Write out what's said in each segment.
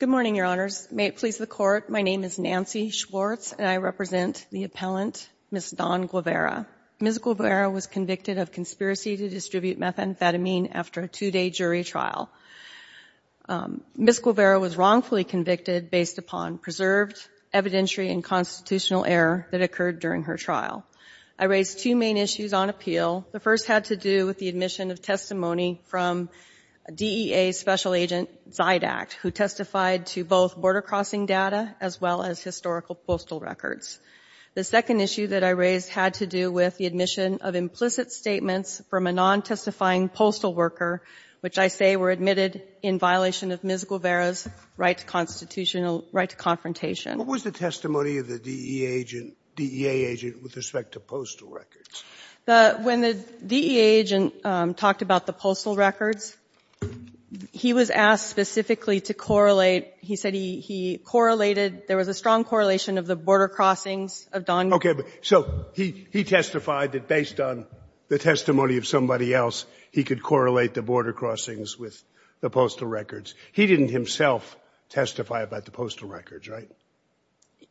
Good morning, Your Honors. May it please the Court, my name is Nancy Schwartz, and I represent the appellant, Ms. Dawn Guevara. Ms. Guevara was convicted of conspiracy to distribute methamphetamine after a two-day jury trial. Ms. Guevara was wrongfully convicted based upon preserved evidentiary and constitutional error that occurred during her trial. I raised two main issues on appeal. The first had to do with the admission of testimony from DEA Special Agent Zydack, who testified to both border crossing data as well as historical postal records. The second issue that I raised had to do with the admission of implicit statements from a non-testifying postal worker, which I say were admitted in violation of Ms. Guevara's right to constitutional right to confrontation. Sotomayor What was the testimony of the DEA agent with respect to postal records? Ms. Guevara When the DEA agent talked about the postal records, he was asked specifically to correlate. He said he correlated, there was a strong correlation of the border crossings of Don — Sotomayor Okay. So he testified that based on the testimony of somebody else, he could correlate the border crossings with the postal records. He didn't himself testify about the postal records, right?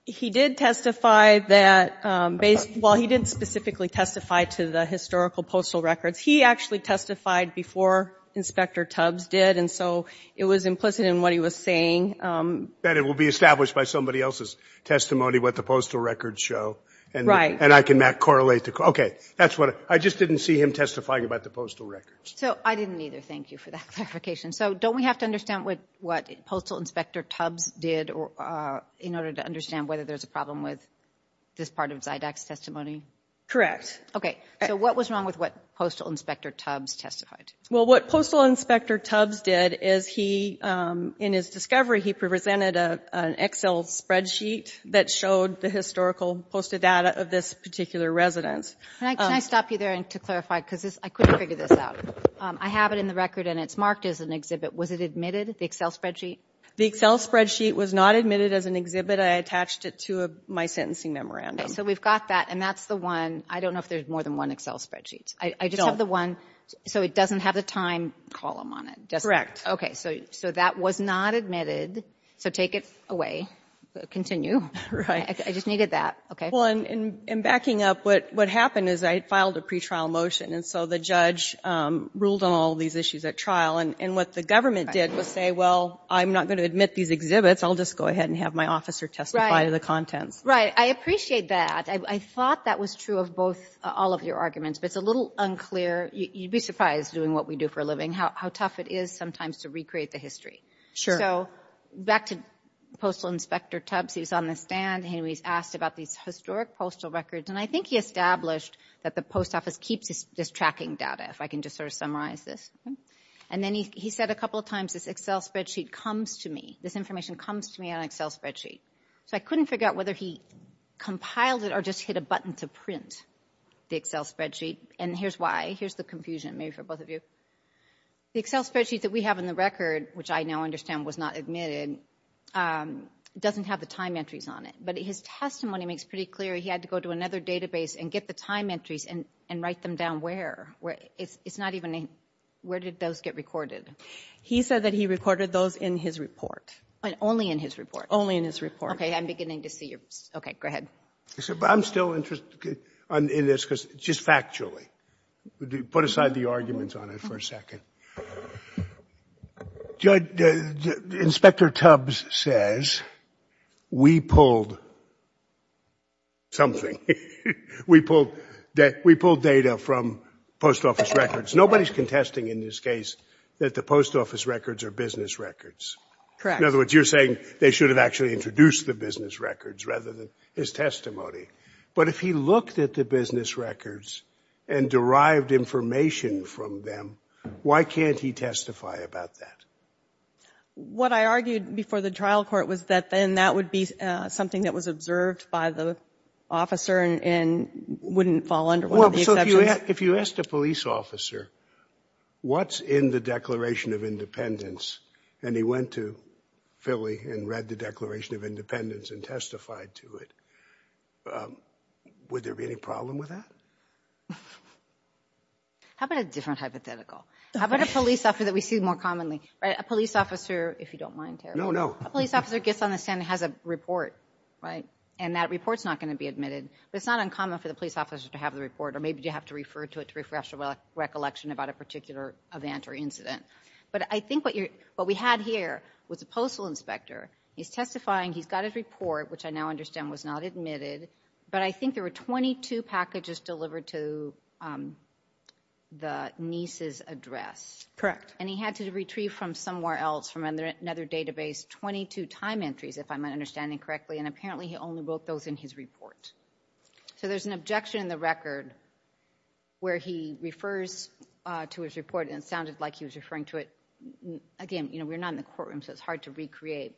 Ms. Guevara He did testify that based — well, he didn't specifically testify to the historical postal records. He actually testified before Inspector Tubbs did, and so it was implicit in what he was saying. Sotomayor That it will be established by somebody else's testimony what the postal records show. Ms. Guevara Right. Sotomayor And I can not correlate the — okay. That's what — I just didn't see him testifying about the postal records. Ms. Guevara So I didn't either. Thank you for that clarification. So don't we have to understand what Postal Inspector Tubbs did in order to understand whether there's a problem with this part of Zydak's testimony? Ms. Guevara Correct. Ms. Guevara Okay. So what was wrong with what Postal Inspector Tubbs testified? Ms. Tubbs Well, what Postal Inspector Tubbs did is he, in his discovery, he presented an Excel spreadsheet that showed the historical postal data of this particular residence. Ms. Guevara Can I stop you there to clarify? Because I couldn't figure this out. Ms. Tubbs I have it in the record, and it's marked as an exhibit. Was it admitted, the Excel spreadsheet? Ms. Guevara The Excel spreadsheet was not admitted as an exhibit. I attached it to my sentencing memorandum. Ms. Tubbs Okay. So we've got that, and that's the one — I don't know if there's more than one Excel spreadsheet. Ms. Tubbs I just have the one — so it doesn't have the time column on it, does it? Ms. Guevara Correct. Ms. Tubbs Okay. So that was not admitted. So take it away. Continue. Ms. Guevara Right. Ms. Tubbs I just needed that. Okay. Ms. Guevara Well, in backing up, what happened is I had filed a pretrial motion, and so the judge ruled on all these issues at trial. And what the government did was say, well, I'm not going to admit these exhibits. I'll just go ahead and have my officer testify to the contents. Ms. Tubbs Right. I appreciate that. I thought that was true of both — all of your arguments, but it's a little unclear — you'd be surprised, doing what we do for a living, how tough it is sometimes to recreate the history. Ms. Guevara Sure. Ms. Tubbs So back to Postal Inspector Tubbs. He was on the stand, and he was asked about these historic postal records. And I think he established that the post office keeps just tracking data, if I can just sort of summarize this. And then he said a couple of times, this Excel spreadsheet comes to me. This information comes to me on an Excel spreadsheet. So I couldn't figure out whether he compiled it or just hit a button to print the Excel spreadsheet. And here's why. Here's the confusion, maybe for both of you. The Excel spreadsheet that we have in the record, which I now understand was not admitted, doesn't have the time entries on it. But his testimony makes pretty clear he had to go to another database and get the time entries and write them down where. It's not even a — where did those get recorded? Ms. Tubbs He said that he recorded those in his report. Ms. Guevara Only in his report? Ms. Tubbs Only in his report. Ms. Guevara Okay. I'm beginning to see your — okay, go ahead. Mr. Levin I'm still interested in this, just factually. Put aside the arguments on it for a second. Judge, Inspector Tubbs says we pulled something. We pulled — we pulled data from post office records. Nobody's contesting in this case that the post office records are business records. Ms. Tubbs Correct. Mr. Levin In other words, you're saying they should have actually introduced the business records rather than his testimony. But if he looked at the business records and derived information from them, why can't he testify about that? Ms. Tubbs What I argued before the trial court was that then that would be something that was observed by the officer and wouldn't fall under one of the exceptions. Mr. Levin Well, so if you asked a police officer what's in the Declaration of Independence and he went to Philly and read the Declaration of Independence and testified to it, would there be any problem with that? Ms. Tubbs How about a different hypothetical? How about a police officer that we see more commonly? A police officer, if you don't mind, Terry. Mr. Levin No, no. Ms. Tubbs A police officer gets on the stand and has a report, right? And that report's not going to be admitted. But it's not uncommon for the police officer to have the report or maybe you have to refer to it to refresh your recollection about a particular event or incident. But I think what we had here was a postal inspector. He's testifying. He's got his But I think there were 22 packages delivered to the niece's address. Ms. Tubbs And he had to retrieve from somewhere else, from another database, 22 time entries, if I'm understanding correctly. And apparently he only wrote those in his report. So there's an objection in the record where he refers to his report and it sounded like he was referring to it. Again, we're not in the courtroom, so it's hard to recreate.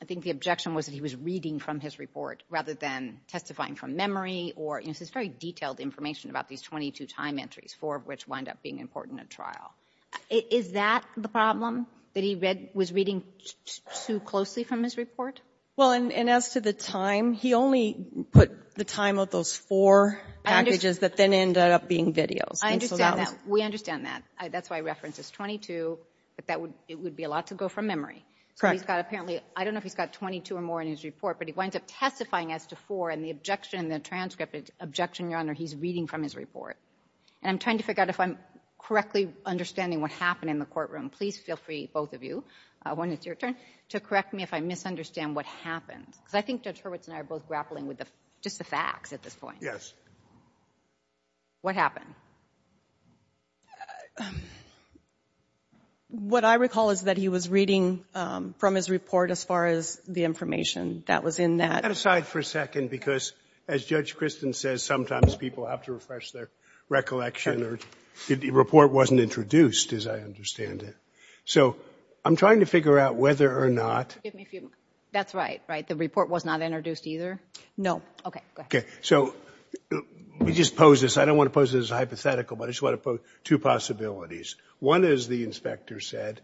I think the objection was that he was reading from his report rather than testifying from memory or, you know, this is very detailed information about these 22 time entries, four of which wind up being important at trial. Is that the problem, that he was reading too closely from his report? Ms. Levin Well, and as to the time, he only put the time of those four packages that then ended up being videos. Ms. Tubbs I understand that. We understand that. That's why I referenced his 22, but it would be a lot to go from memory. Ms. Levin Correct. Ms. Tubbs So he's got apparently, I don't know if he's got 22 or more in his report, but he winds up testifying as to four and the objection in the transcript is objection, Your Honor, he's reading from his report. And I'm trying to figure out if I'm correctly understanding what happened in the courtroom. Please feel free, both of you, when it's your turn, to correct me if I misunderstand what happened. Because I think Judge Hurwitz and I are both grappling with just the facts at this point. Judge Hurwitz Yes. Ms. Tubbs What happened? Ms. Levin What I recall is that he was reading from his report as far as the information that was in that. Judge Kagan Let's set that aside for a second, because as Judge Kristen says, sometimes people have to refresh their recollection or the report wasn't introduced, as I understand it. So I'm trying to figure out whether or not Ms. Levin That's right, right? The report was not introduced either? Ms. Tubbs No. Ms. Levin Okay, go ahead. Judge Kagan So let me just pose this. I don't want to pose this as hypothetical, but I just want to pose two possibilities. One is the inspector said,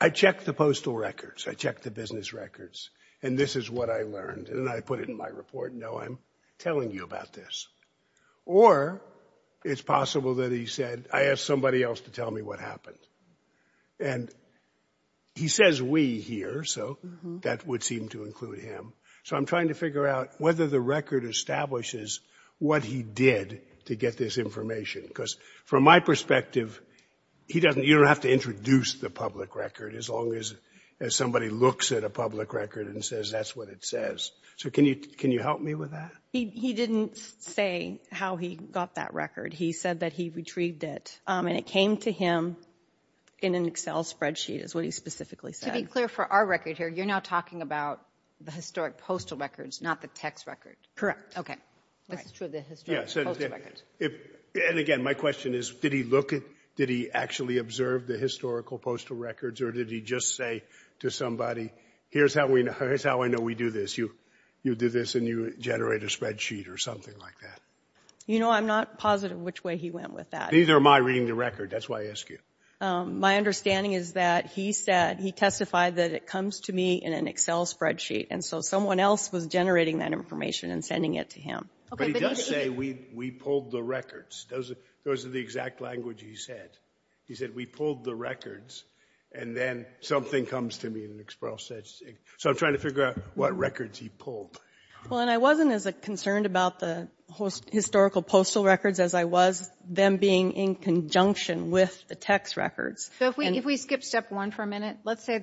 I checked the postal records, I checked the business records, and this is what I learned. And I put it in my report, and now I'm telling you about this. Or it's possible that he said, I asked somebody else to tell me what happened. And he says we here, so that would seem to include him. So I'm trying to figure out whether the record establishes what he did to get this information. Because from my perspective, you don't have to introduce the public record as long as somebody looks at a public record and says that's what it says. So can you help me with that? Ms. Tubbs He didn't say how he got that record. He said that he retrieved it, and it came to him in an Excel spreadsheet is what he specifically said. Ms. Kagan To be clear for our record here, you're now talking about the historic postal records, not the text record. Judge Kagan Correct. Ms. Tubbs Okay. Ms. Kagan This is true of the historical postal records. Judge Kagan Yes. And again, my question is, did he look at, did he actually observe the historical postal records, or did he just say to somebody, here's how I know we do this. You do this and you generate a spreadsheet or something like that. Ms. Tubbs You know, I'm not positive which way he went with that. Judge Kagan Neither am I reading the record. That's why I ask you. Ms. Tubbs My understanding is that he said, he testified that it comes to me in an Excel spreadsheet, and so someone else was generating that information and sending it to him. Judge Kagan But he does say, we pulled the records. Those are the exact language he said. He said, we pulled the records, and then something comes to me in an Excel spreadsheet. So I'm trying to figure out what records he pulled. Ms. Tubbs Well, and I wasn't as concerned about the historical postal records as I was them being in conjunction with the text records. Ms. Kagan So if we skip step one for a minute, let's say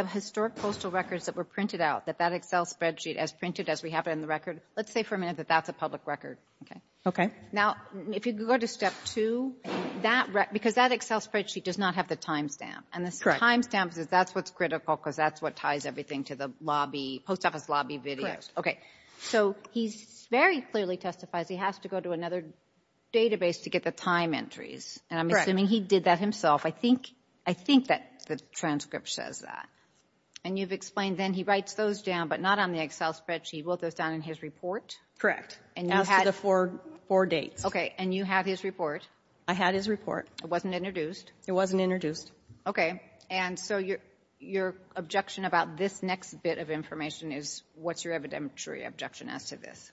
the historic postal records that were printed out, that Excel spreadsheet as printed as we have it in the record, let's say for a minute that that's a public record. Ms. Tubbs Okay. Ms. Kagan Now, if you go to step two, that, because that Excel spreadsheet does not have the timestamp. Ms. Kagan And the timestamp says that's what's critical, because that's what ties everything to the lobby, post office lobby videos. Ms. Kagan Okay. Ms. Tubbs So he very clearly testifies he has to go to another database to get the time entries. Ms. Tubbs And I'm assuming he did that himself. I think that the transcript says that. Ms. Kagan And you've explained then he writes those down, but not on the Excel spreadsheet. He wrote those down in his report? Ms. Tubbs Correct. Ms. Kagan And you had Ms. Tubbs Those are the four dates. Ms. Kagan Okay. And you have his report? Ms. Tubbs I had his report. Ms. Kagan It wasn't introduced? Ms. Tubbs It wasn't introduced. Ms. Kagan Okay. And so your objection about this next bit of information is, what's your evidentiary objection as to this? Ms. Tubbs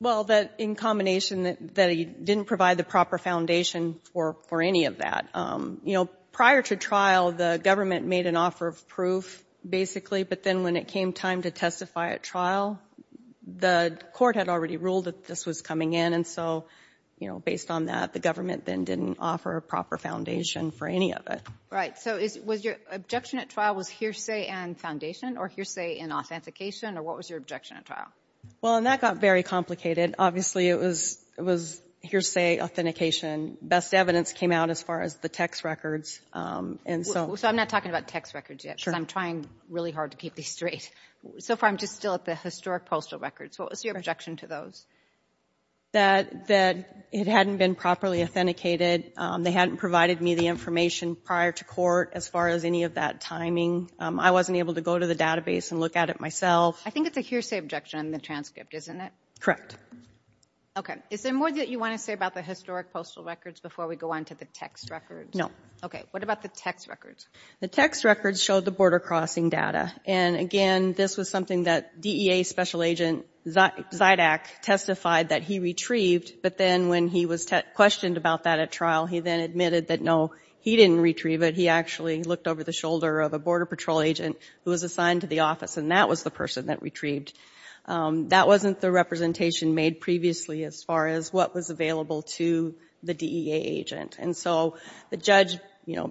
Well, that in combination that he didn't provide the proper foundation for any of that. You know, prior to trial, the government made an offer of proof, basically, but then when it came time to testify at trial, the court had already ruled that this was coming in. And so, you know, based on that, the government then didn't offer a proper foundation for any of it. Ms. Kagan Right. So was your objection at trial was hearsay and foundation or hearsay and authentication? Or what was your objection at trial? Ms. Tubbs Well, and that got very complicated. Obviously, it was hearsay, authentication. Best evidence came out as far as the text records. Ms. Kagan So I'm not talking about text records yet. Ms. Tubbs Sure. Ms. Kagan Because I'm trying really hard to keep these straight. So far, I'm just still at the historic postal records. What was your objection to those? Ms. Tubbs That it hadn't been properly authenticated. They hadn't provided me the information prior to court as far as any of that timing. I wasn't able to go to the database and look at it myself. Ms. Kagan I think it's a hearsay objection in the transcript, isn't it? Ms. Tubbs Correct. Ms. Kagan Okay. Is there more that you want to say about the historic postal records before we go on to the text records? Ms. Tubbs No. Ms. Kagan Okay. What about the text records? Ms. Tubbs The text records showed the border crossing data. And again, this was something that DEA Special Agent Zydak testified that he retrieved, but then when he was questioned about that at trial, he then admitted that no, he didn't retrieve it. He actually looked over the shoulder of a Border Patrol agent who was assigned to the office, and that was the person that retrieved. That wasn't the representation made previously as far as what was available to the DEA agent. And so the judge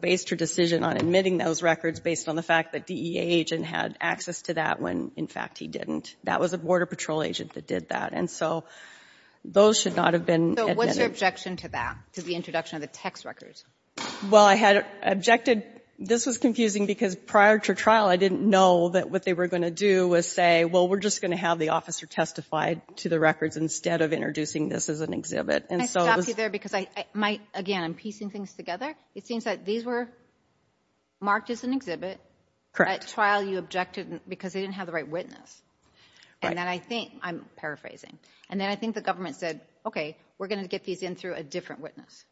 based her decision on admitting those records based on the fact that the DEA agent had access to that when, in fact, he didn't. That was a Border Patrol agent that did that. And so those should not have been admitted. Ms. Kagan So what's your objection to that, to the introduction of the text records? Ms. Tubbs Well, I had objected. This was confusing because prior to trial I didn't know that what they were going to do was say, well, we're just going to have the officer testify to the records instead of introducing this as an exhibit. Ms. Kagan Can I stop you there because I might, again, I'm piecing things together. It seems that these were marked as an exhibit. Ms. Tubbs Correct. Ms. Kagan So prior to trial you objected because they didn't have the right witness. Ms. Tubbs Right. Ms. Kagan And then I think, I'm paraphrasing, and then I think the government said, okay, we're going to get these in through a different witness. Ms. Tubbs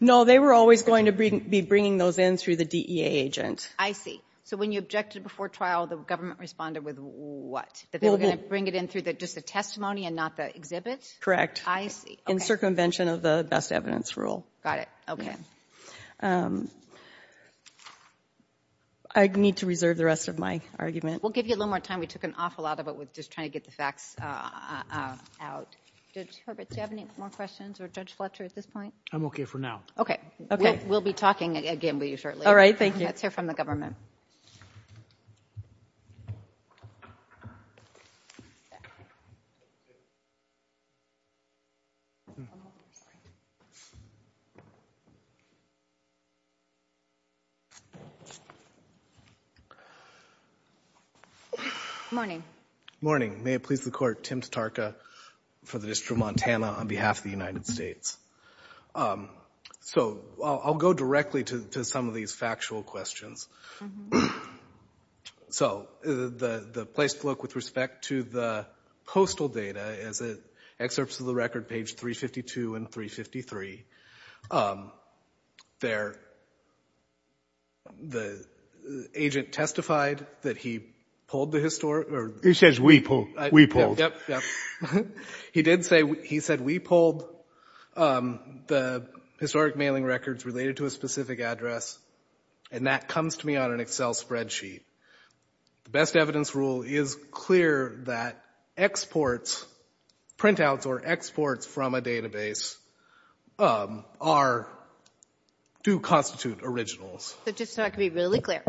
No, they were always going to be bringing those in through the DEA agent. Ms. Kagan I see. So when you objected before trial the government responded with what, that they were going to bring it in through just the testimony and not the exhibit? Ms. Tubbs Correct. Ms. Kagan I see. Ms. Tubbs In circumvention of the best evidence rule. Ms. Kagan Got it. Ms. Tubbs I need to reserve the rest of my argument. Ms. Kagan We'll give you a little more time. We took an awful lot of it with just trying to get the facts out. Judge Hurwitz, do you have any more questions for Judge Fletcher at this point? Judge Hurwitz I'm okay for now. Ms. Kagan Okay. We'll be talking again with you shortly. Ms. Tubbs All right. Thank you. Ms. Kagan Let's hear from the government. Morning. May it please the Court, Tim Tarka for the District of Montana on behalf of the United States. So I'll go directly to some of these factual questions. So the place to look with respect to the postal data is at excerpts of the record page 352 and 353. There the agent testified that he pulled the historic or He says we pulled. We pulled. Yep, yep. He did say he said we pulled the historic mailing records related to a specific address. And that comes to me on an Excel spreadsheet. The best evidence rule is clear that exports, printouts or exports from a database are, do constitute originals. But just so I can be really clear,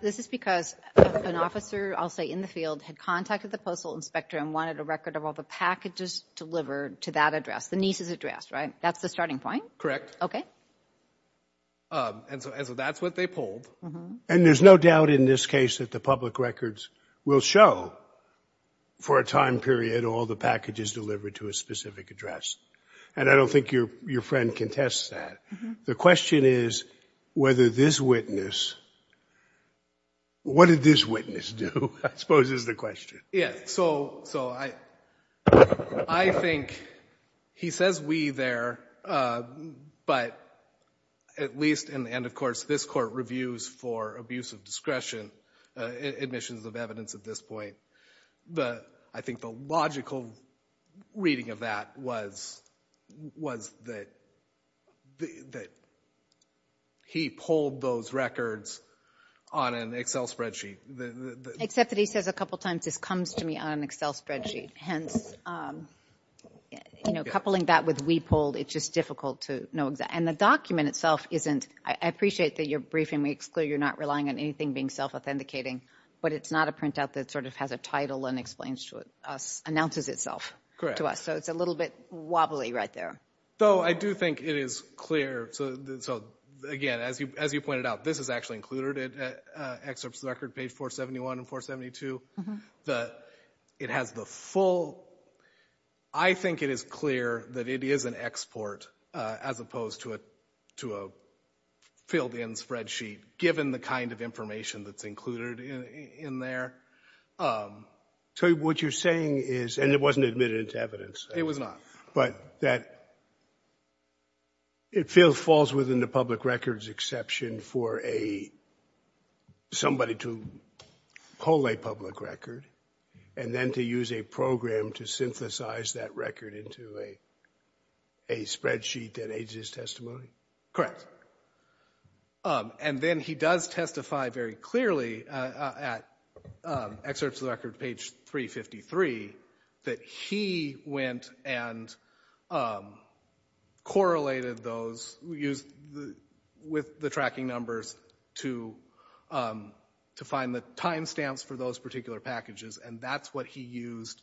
this is because an officer, I'll say in the field, had contacted the postal inspector and wanted a record of all the packages delivered to that address, the nieces address, right? That's the starting point? Correct. Okay. And so that's what they pulled. And there's no doubt in this case that the public records will show for a time period all the packages delivered to a specific address. And I don't think your friend contests that. The question is whether this witness, what did this witness do, I suppose is the question. Yeah. So I think he says we there, but at least in the end, of course, this court reviews for abuse of discretion, admissions of evidence at this point. But I think the logical reading of that was that he pulled those records on an Excel spreadsheet. Except that he says a couple times this comes to me on an Excel spreadsheet. Hence, you know, coupling that with we pulled, it's just difficult to know. And the document itself isn't, I appreciate that your briefing makes clear you're not relying on anything being self-authenticating, but it's not a printout that sort of has a title and explains to us, announces itself to us. Correct. So it's a little bit wobbly right there. Though I do think it is clear, so again, as you pointed out, this is actually included in excerpts of the record, page 471 and 472. It has the full, I think it is clear that it is an export as opposed to a filled in spreadsheet, given the kind of information that's included in there. So what you're saying is, and it wasn't admitted into evidence. It was not. But that it falls within the public records exception for somebody to pull a public record and then to use a program to synthesize that record into a spreadsheet that aids his testimony? Correct. And then he does testify very clearly at excerpts of the record, page 353, that he went and correlated those with the tracking numbers to find the time stamps for those particular packages, and that's what he used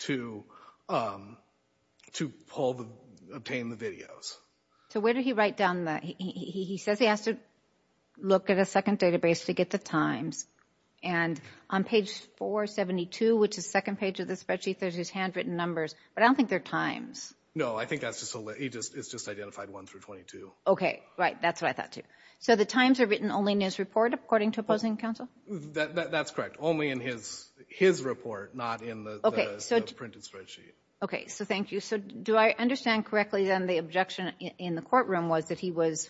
to obtain the videos. So where did he write down that? He says he has to look at a second database to get the times. And on page 472, which is the second page of the spreadsheet, there's his handwritten numbers. But I don't think they're times. No, I think it's just identified 1 through 22. Okay, right. That's what I thought too. So the times are written only in his report, according to opposing counsel? That's correct. Only in his report, not in the printed spreadsheet. Okay, so thank you. So do I understand correctly, then, the objection in the courtroom was that he was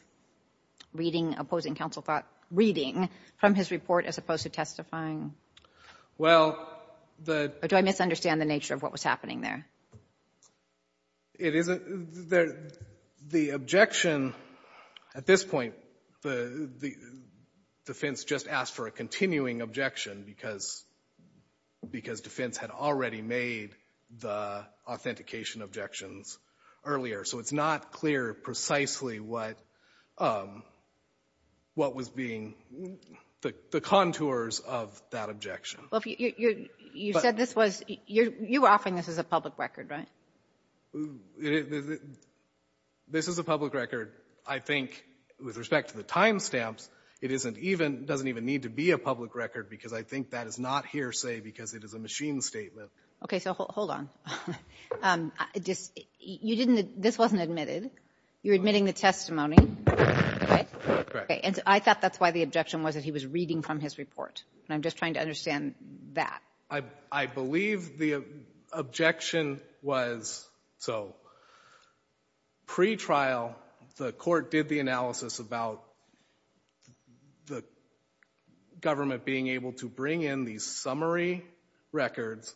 reading, opposing counsel thought, reading from his report as opposed to testifying? Well, the ---- Or do I misunderstand the nature of what was happening there? It isn't. The objection at this point, the defense just asked for a continuing objection because defense had already made the authentication objections earlier. So it's not clear precisely what was being the contours of that objection. You said this was ---- you were offering this as a public record, right? This is a public record, I think, with respect to the time stamps. It doesn't even need to be a public record because I think that is not hearsay because it is a machine statement. Okay, so hold on. You didn't ---- this wasn't admitted. You're admitting the testimony, right? Correct. And I thought that's why the objection was that he was reading from his report. And I'm just trying to understand that. I believe the objection was so. Pre-trial, the court did the analysis about the government being able to bring in these summary records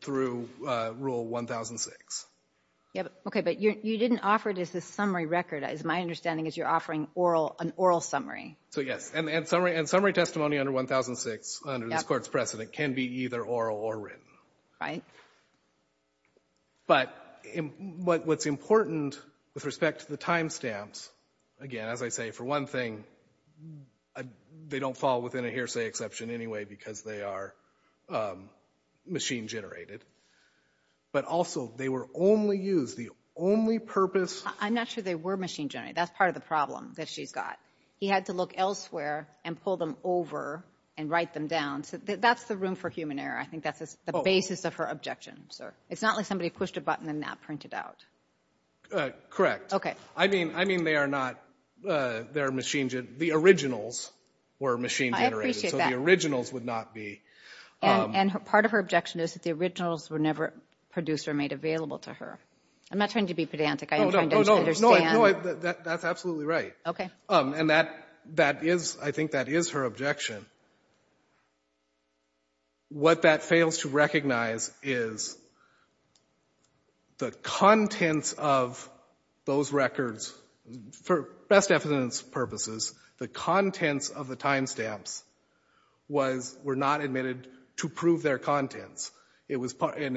through Rule 1006. Okay, but you didn't offer it as a summary record, as my understanding is you're offering an oral summary. So, yes, and summary testimony under 1006 under this Court's precedent can be either oral or written. Right. But what's important with respect to the time stamps, again, as I say, for one thing, they don't fall within a hearsay exception anyway because they are machine generated. But also they were only used, the only purpose ---- I'm not sure they were machine generated. That's part of the problem that she's got. He had to look elsewhere and pull them over and write them down. So that's the room for human error. I think that's the basis of her objection, sir. It's not like somebody pushed a button and that printed out. Correct. Okay. I mean they are not, they're machine, the originals were machine generated. I appreciate that. So the originals would not be ---- And part of her objection is that the originals were never produced or made available to her. I'm not trying to be pedantic. I'm trying to understand. No, no, no, that's absolutely right. Okay. And that is, I think that is her objection. What that fails to recognize is the contents of those records, for best evidence purposes, the contents of the timestamps were not admitted to prove their contents. It was an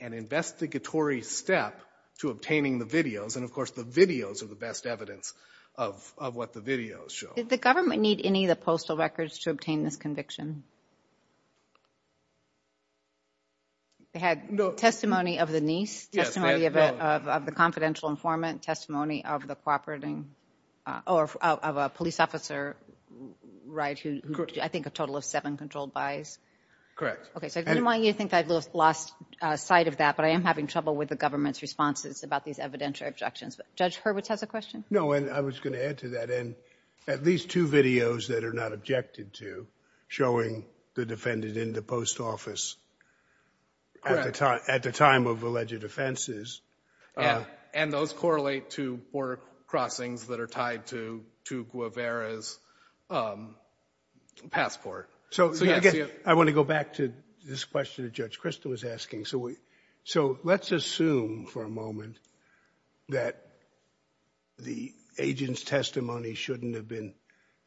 investigatory step to obtaining the videos, and of course the videos are the best evidence of what the videos show. Did the government need any of the postal records to obtain this conviction? They had testimony of the niece, testimony of the confidential informant, testimony of the cooperating, or of a police officer, right, who did I think a total of seven controlled buys? Correct. Okay. So I didn't want you to think I lost sight of that, but I am having trouble with the government's responses about these evidentiary objections. Judge Hurwitz has a question. No, and I was going to add to that, and at least two videos that are not objected to showing the defendant in the post office at the time of alleged offenses. And those correlate to border crossings that are tied to Guevara's passport. So, again, I want to go back to this question that Judge Krista was asking. So let's assume for a moment that the agent's testimony shouldn't have been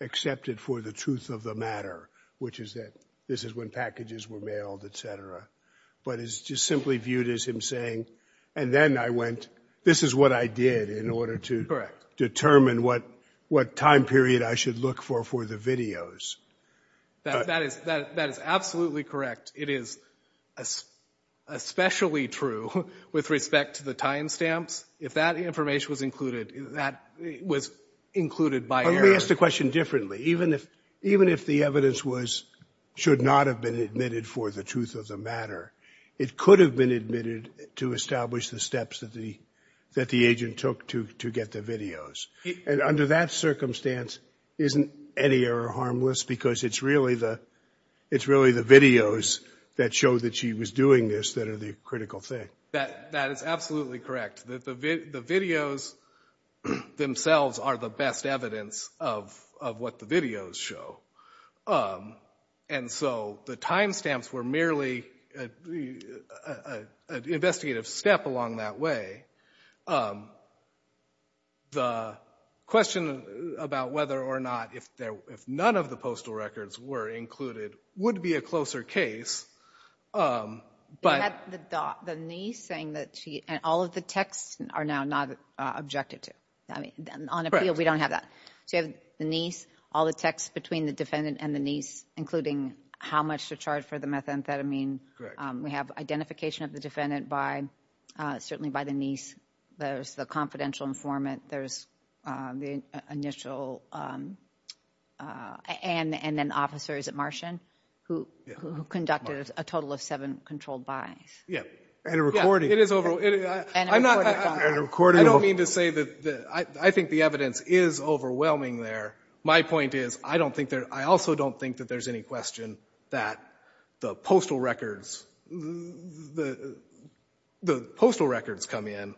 accepted for the truth of the matter, which is that this is when packages were mailed, et cetera, but it's just simply viewed as him saying, and then I went this is what I did in order to determine what time period I should look for for the videos. That is absolutely correct. It is especially true with respect to the time stamps. If that information was included, that was included by error. Let me ask the question differently. Even if the evidence should not have been admitted for the truth of the matter, it could have been admitted to establish the steps that the agent took to get the videos. And under that circumstance, isn't any error harmless? Because it's really the videos that show that she was doing this that are the critical thing. That is absolutely correct. The videos themselves are the best evidence of what the videos show. And so the time stamps were merely an investigative step along that way. The question about whether or not if none of the postal records were included would be a closer case. You have the niece saying that she and all of the texts are now not objected to. On appeal, we don't have that. So you have the niece, all the texts between the defendant and the niece, including how much to charge for the methamphetamine. Correct. We have identification of the defendant by certainly by the niece. There's the confidential informant. There's the initial and then officers at Martian who conducted a total of seven controlled buys. Yeah. And a recording. It is over. And a recording. I don't mean to say that I think the evidence is overwhelming there. My point is I also don't think that there's any question that the postal records come in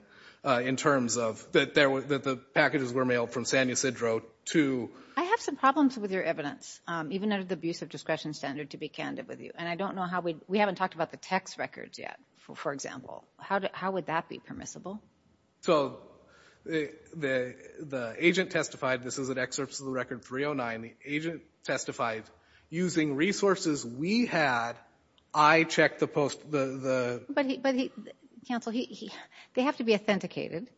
in terms of that the packages were mailed from San Ysidro to— I have some problems with your evidence, even under the abuse of discretion standard, to be candid with you. And I don't know how we—we haven't talked about the text records yet, for example. How would that be permissible? So the agent testified. This is an excerpt from the record 309. The agent testified using resources we had. I checked the post— But, counsel, they have to be authenticated.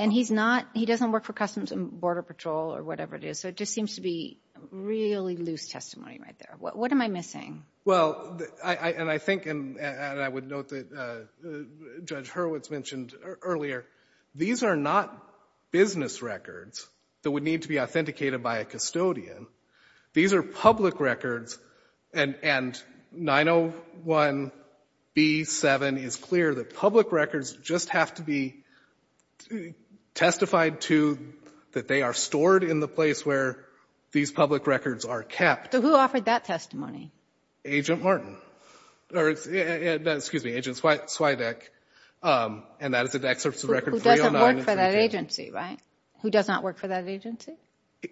And he's not—he doesn't work for Customs and Border Patrol or whatever it is, so it just seems to be really loose testimony right there. What am I missing? Well, and I think, and I would note that Judge Hurwitz mentioned earlier, these are not business records that would need to be authenticated by a custodian. These are public records, and 901B7 is clear that public records just have to be testified to that they are stored in the place where these public records are kept. So who offered that testimony? Agent Martin. Excuse me, Agent Swidek. And that is an excerpt from the record 309. Who doesn't work for that agency, right? Who does not work for that agency?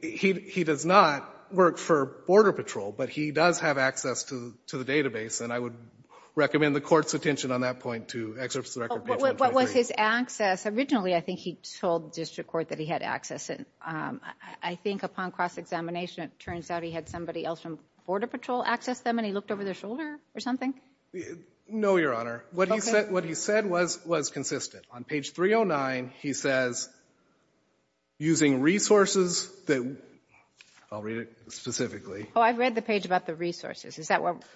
He does not work for Border Patrol, but he does have access to the database, and I would recommend the Court's attention on that point to excerpts from the record page 123. What was his access? Originally, I think he told the district court that he had access. I think upon cross-examination, it turns out he had somebody else from Border Patrol access them, and he looked over their shoulder or something? No, Your Honor. What he said was consistent. On page 309, he says, using resources that, I'll read it specifically. Oh, I read the page about the resources.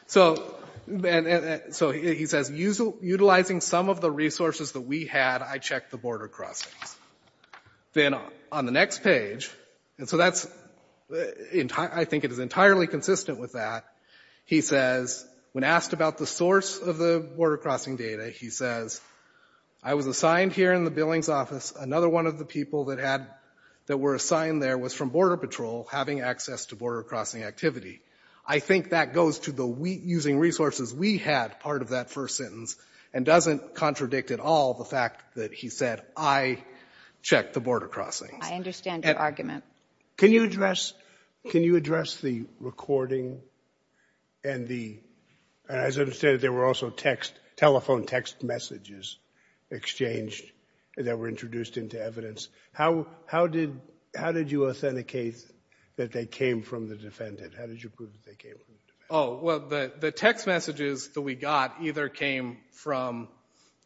So he says, utilizing some of the resources that we had, I checked the border crossings. Then on the next page, and so that's, I think it is entirely consistent with that, he says, when asked about the source of the border crossing data, he says, I was assigned here in the Billings office. Another one of the people that had, that were assigned there was from Border Patrol having access to border crossing activity. I think that goes to the using resources we had part of that first sentence and doesn't contradict at all the fact that he said, I checked the border crossings. I understand your argument. Can you address the recording and the, as I understand it, there were also telephone text messages exchanged that were introduced into evidence. How did you authenticate that they came from the defendant? How did you prove that they came from the defendant? Oh, well, the text messages that we got either came from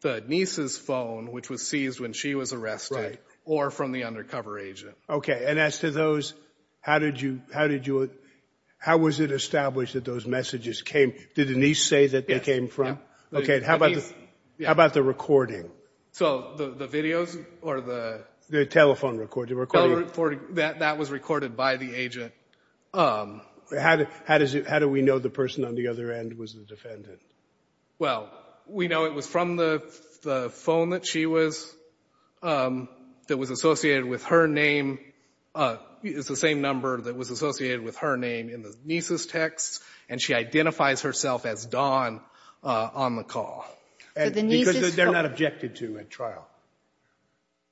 the niece's phone, which was seized when she was arrested, or from the undercover agent. Okay, and as to those, how did you, how was it established that those messages came, did the niece say that they came from? Okay, how about the recording? So, the videos or the? The telephone recording. That was recorded by the agent. How do we know the person on the other end was the defendant? Well, we know it was from the phone that she was, that was associated with her name. It's the same number that was associated with her name in the niece's text, and she identifies herself as Dawn on the call. So the niece's phone. Because they're not objected to at trial.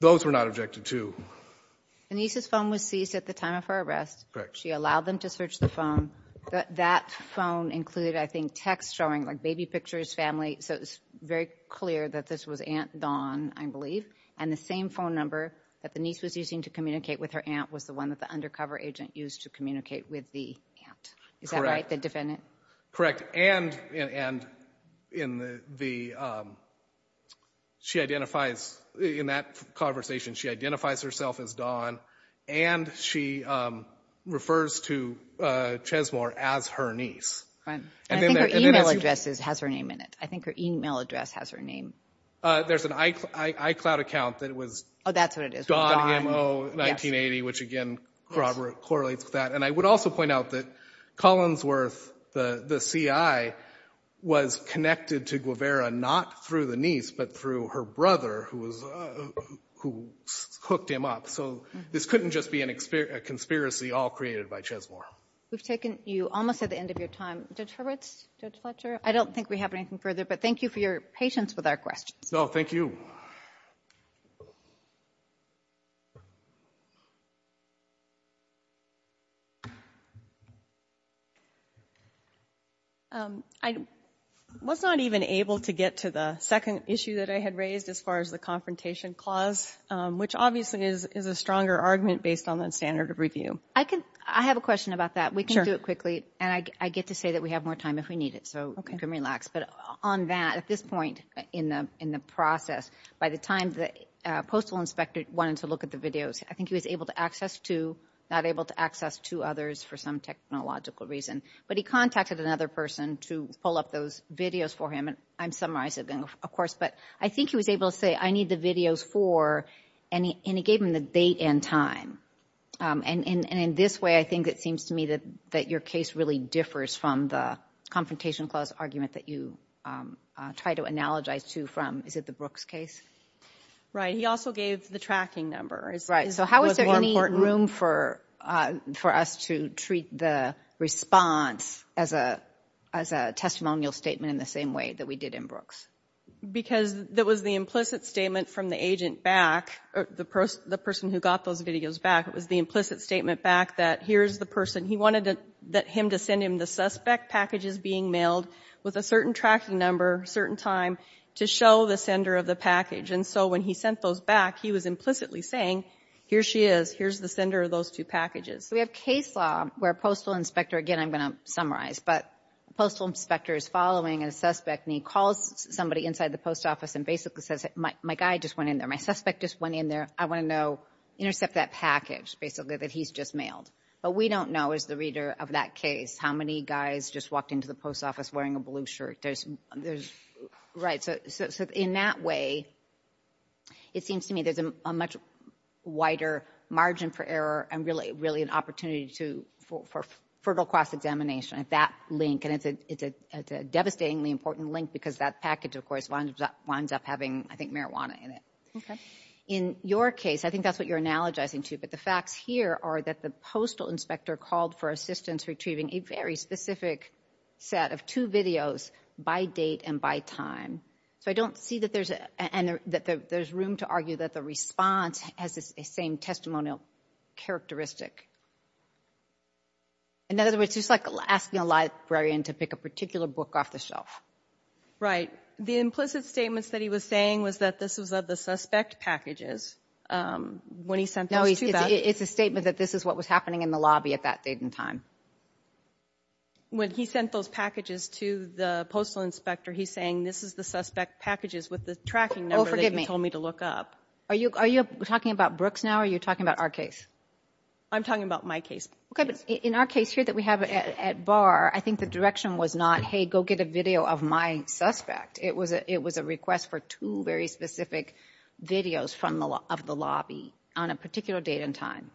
Those were not objected to. The niece's phone was seized at the time of her arrest. She allowed them to search the phone. That phone included, I think, text showing like baby pictures, family, so it was very clear that this was Aunt Dawn, I believe, and the same phone number that the niece was using to communicate with her aunt was the one that the undercover agent used to communicate with the aunt. Is that right, the defendant? Correct, and in the, she identifies, in that conversation, she identifies herself as Dawn and she refers to Chesmore as her niece. I think her e-mail address has her name in it. I think her e-mail address has her name. There's an iCloud account that it was Dawn MO 1980, which, again, corroborates that. And I would also point out that Collinsworth, the CI, was connected to Guevara not through the niece but through her brother who hooked him up. So this couldn't just be a conspiracy all created by Chesmore. We've taken you almost at the end of your time. Judge Hurwitz, Judge Fletcher, I don't think we have anything further, but thank you for your patience with our questions. No, thank you. I was not even able to get to the second issue that I had raised as far as the confrontation clause, which obviously is a stronger argument based on the standard of review. I have a question about that. We can do it quickly. And I get to say that we have more time if we need it, so you can relax. But on that, at this point in the process, by the time the postal inspector wanted to look at the videos, I think he was able to access two, not able to access two others for some technological reason. But he contacted another person to pull up those videos for him, and I'm summarizing them, of course. But I think he was able to say, I need the videos for, and it gave him the date and time. And in this way, I think it seems to me that your case really differs from the confrontation clause argument that you try to analogize to from, is it the Brooks case? Right. He also gave the tracking number. Right. So how is there any room for us to treat the response as a testimonial statement in the same way that we did in Brooks? Because that was the implicit statement from the agent back, the person who got those videos back, it was the implicit statement back that here's the person. He wanted him to send him the suspect packages being mailed with a certain tracking number, certain time, to show the sender of the package. And so when he sent those back, he was implicitly saying, here she is, here's the sender of those two packages. We have case law where a postal inspector, again, I'm going to summarize, but a postal inspector is following a suspect, and he calls somebody inside the post office and basically says, my guy just went in there, my suspect just went in there, I want to know, intercept that package, basically, that he's just mailed. But we don't know, as the reader of that case, how many guys just walked into the post office wearing a blue shirt. Right. So in that way, it seems to me there's a much wider margin for error and really an opportunity for fertile cross-examination at that link. And it's a devastatingly important link because that package, of course, winds up having, I think, marijuana in it. Okay. In your case, I think that's what you're analogizing to, but the facts here are that the postal inspector called for assistance retrieving a very specific set of two videos by date and by time. So I don't see that there's room to argue that the response has the same testimonial characteristic. In other words, it's just like asking a librarian to pick a particular book off the shelf. Right. The implicit statements that he was saying was that this was of the suspect packages when he sent those to that. No, it's a statement that this is what was happening in the lobby at that date and time. When he sent those packages to the postal inspector, he's saying this is the suspect packages with the tracking number that he told me to look up. Oh, forgive me. Are you talking about Brooks now or are you talking about our case? I'm talking about my case. Okay. But in our case here that we have at VAR, I think the direction was not, hey, go get a video of my suspect. It was a request for two very specific videos of the lobby on a particular date and time.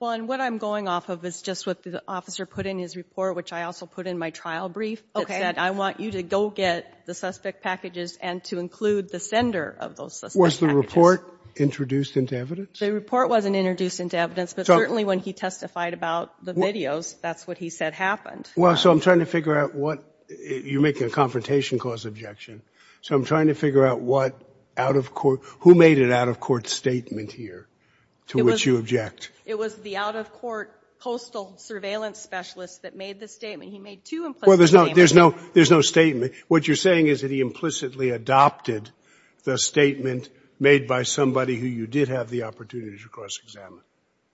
Well, and what I'm going off of is just what the officer put in his report, which I also put in my trial brief that said, I want you to go get the suspect packages and to include the sender of those suspects. Was the report introduced into evidence? The report wasn't introduced into evidence, but certainly when he testified about the videos, that's what he said happened. Well, so I'm trying to figure out what you're making a confrontation cause objection. So I'm trying to figure out what out-of-court, who made an out-of-court statement here to which you object. It was the out-of-court postal surveillance specialist that made the statement. He made two implicit statements. Well, there's no statement. What you're saying is that he implicitly adopted the statement made by somebody who you did have the opportunity to cross-examine.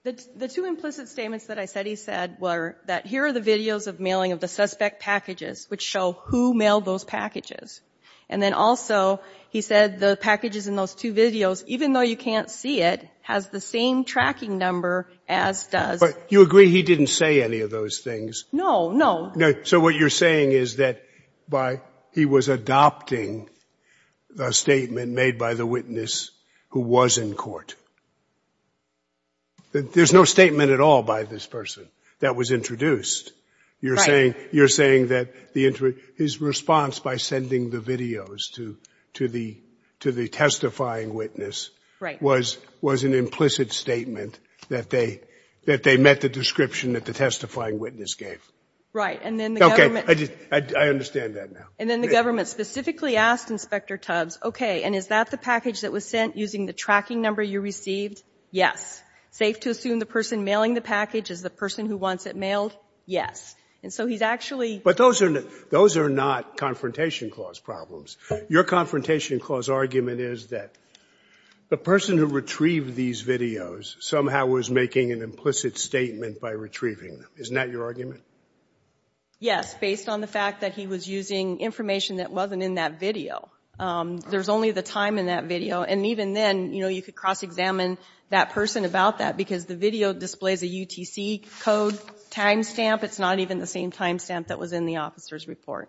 The two implicit statements that I said he said were that here are the videos of the suspect packages, which show who mailed those packages. And then also he said the packages in those two videos, even though you can't see it, has the same tracking number as does. But you agree he didn't say any of those things? No, no. So what you're saying is that he was adopting a statement made by the witness who was in court. There's no statement at all by this person that was introduced. Right. You're saying that his response by sending the videos to the testifying witness was an implicit statement that they met the description that the testifying witness gave. Right. And then the government ---- Okay. I understand that now. And then the government specifically asked Inspector Tubbs, okay, and is that the package that was sent using the tracking number you received? Yes. Safe to assume the person mailing the package is the person who wants it mailed? Yes. And so he's actually ---- But those are not confrontation clause problems. Your confrontation clause argument is that the person who retrieved these videos somehow was making an implicit statement by retrieving them. Isn't that your argument? Yes, based on the fact that he was using information that wasn't in that video. There's only the time in that video. And even then, you could cross-examine that person about that because the video displays a UTC code time stamp. It's not even the same time stamp that was in the officer's report.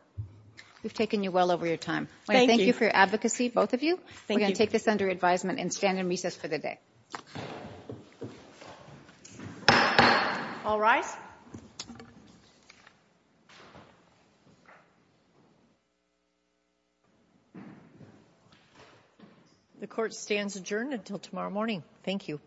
We've taken you well over your time. Thank you. Thank you for your advocacy, both of you. Thank you. We're going to take this under advisement and stand in recess for the day. All rise. The court stands adjourned until tomorrow morning. Thank you.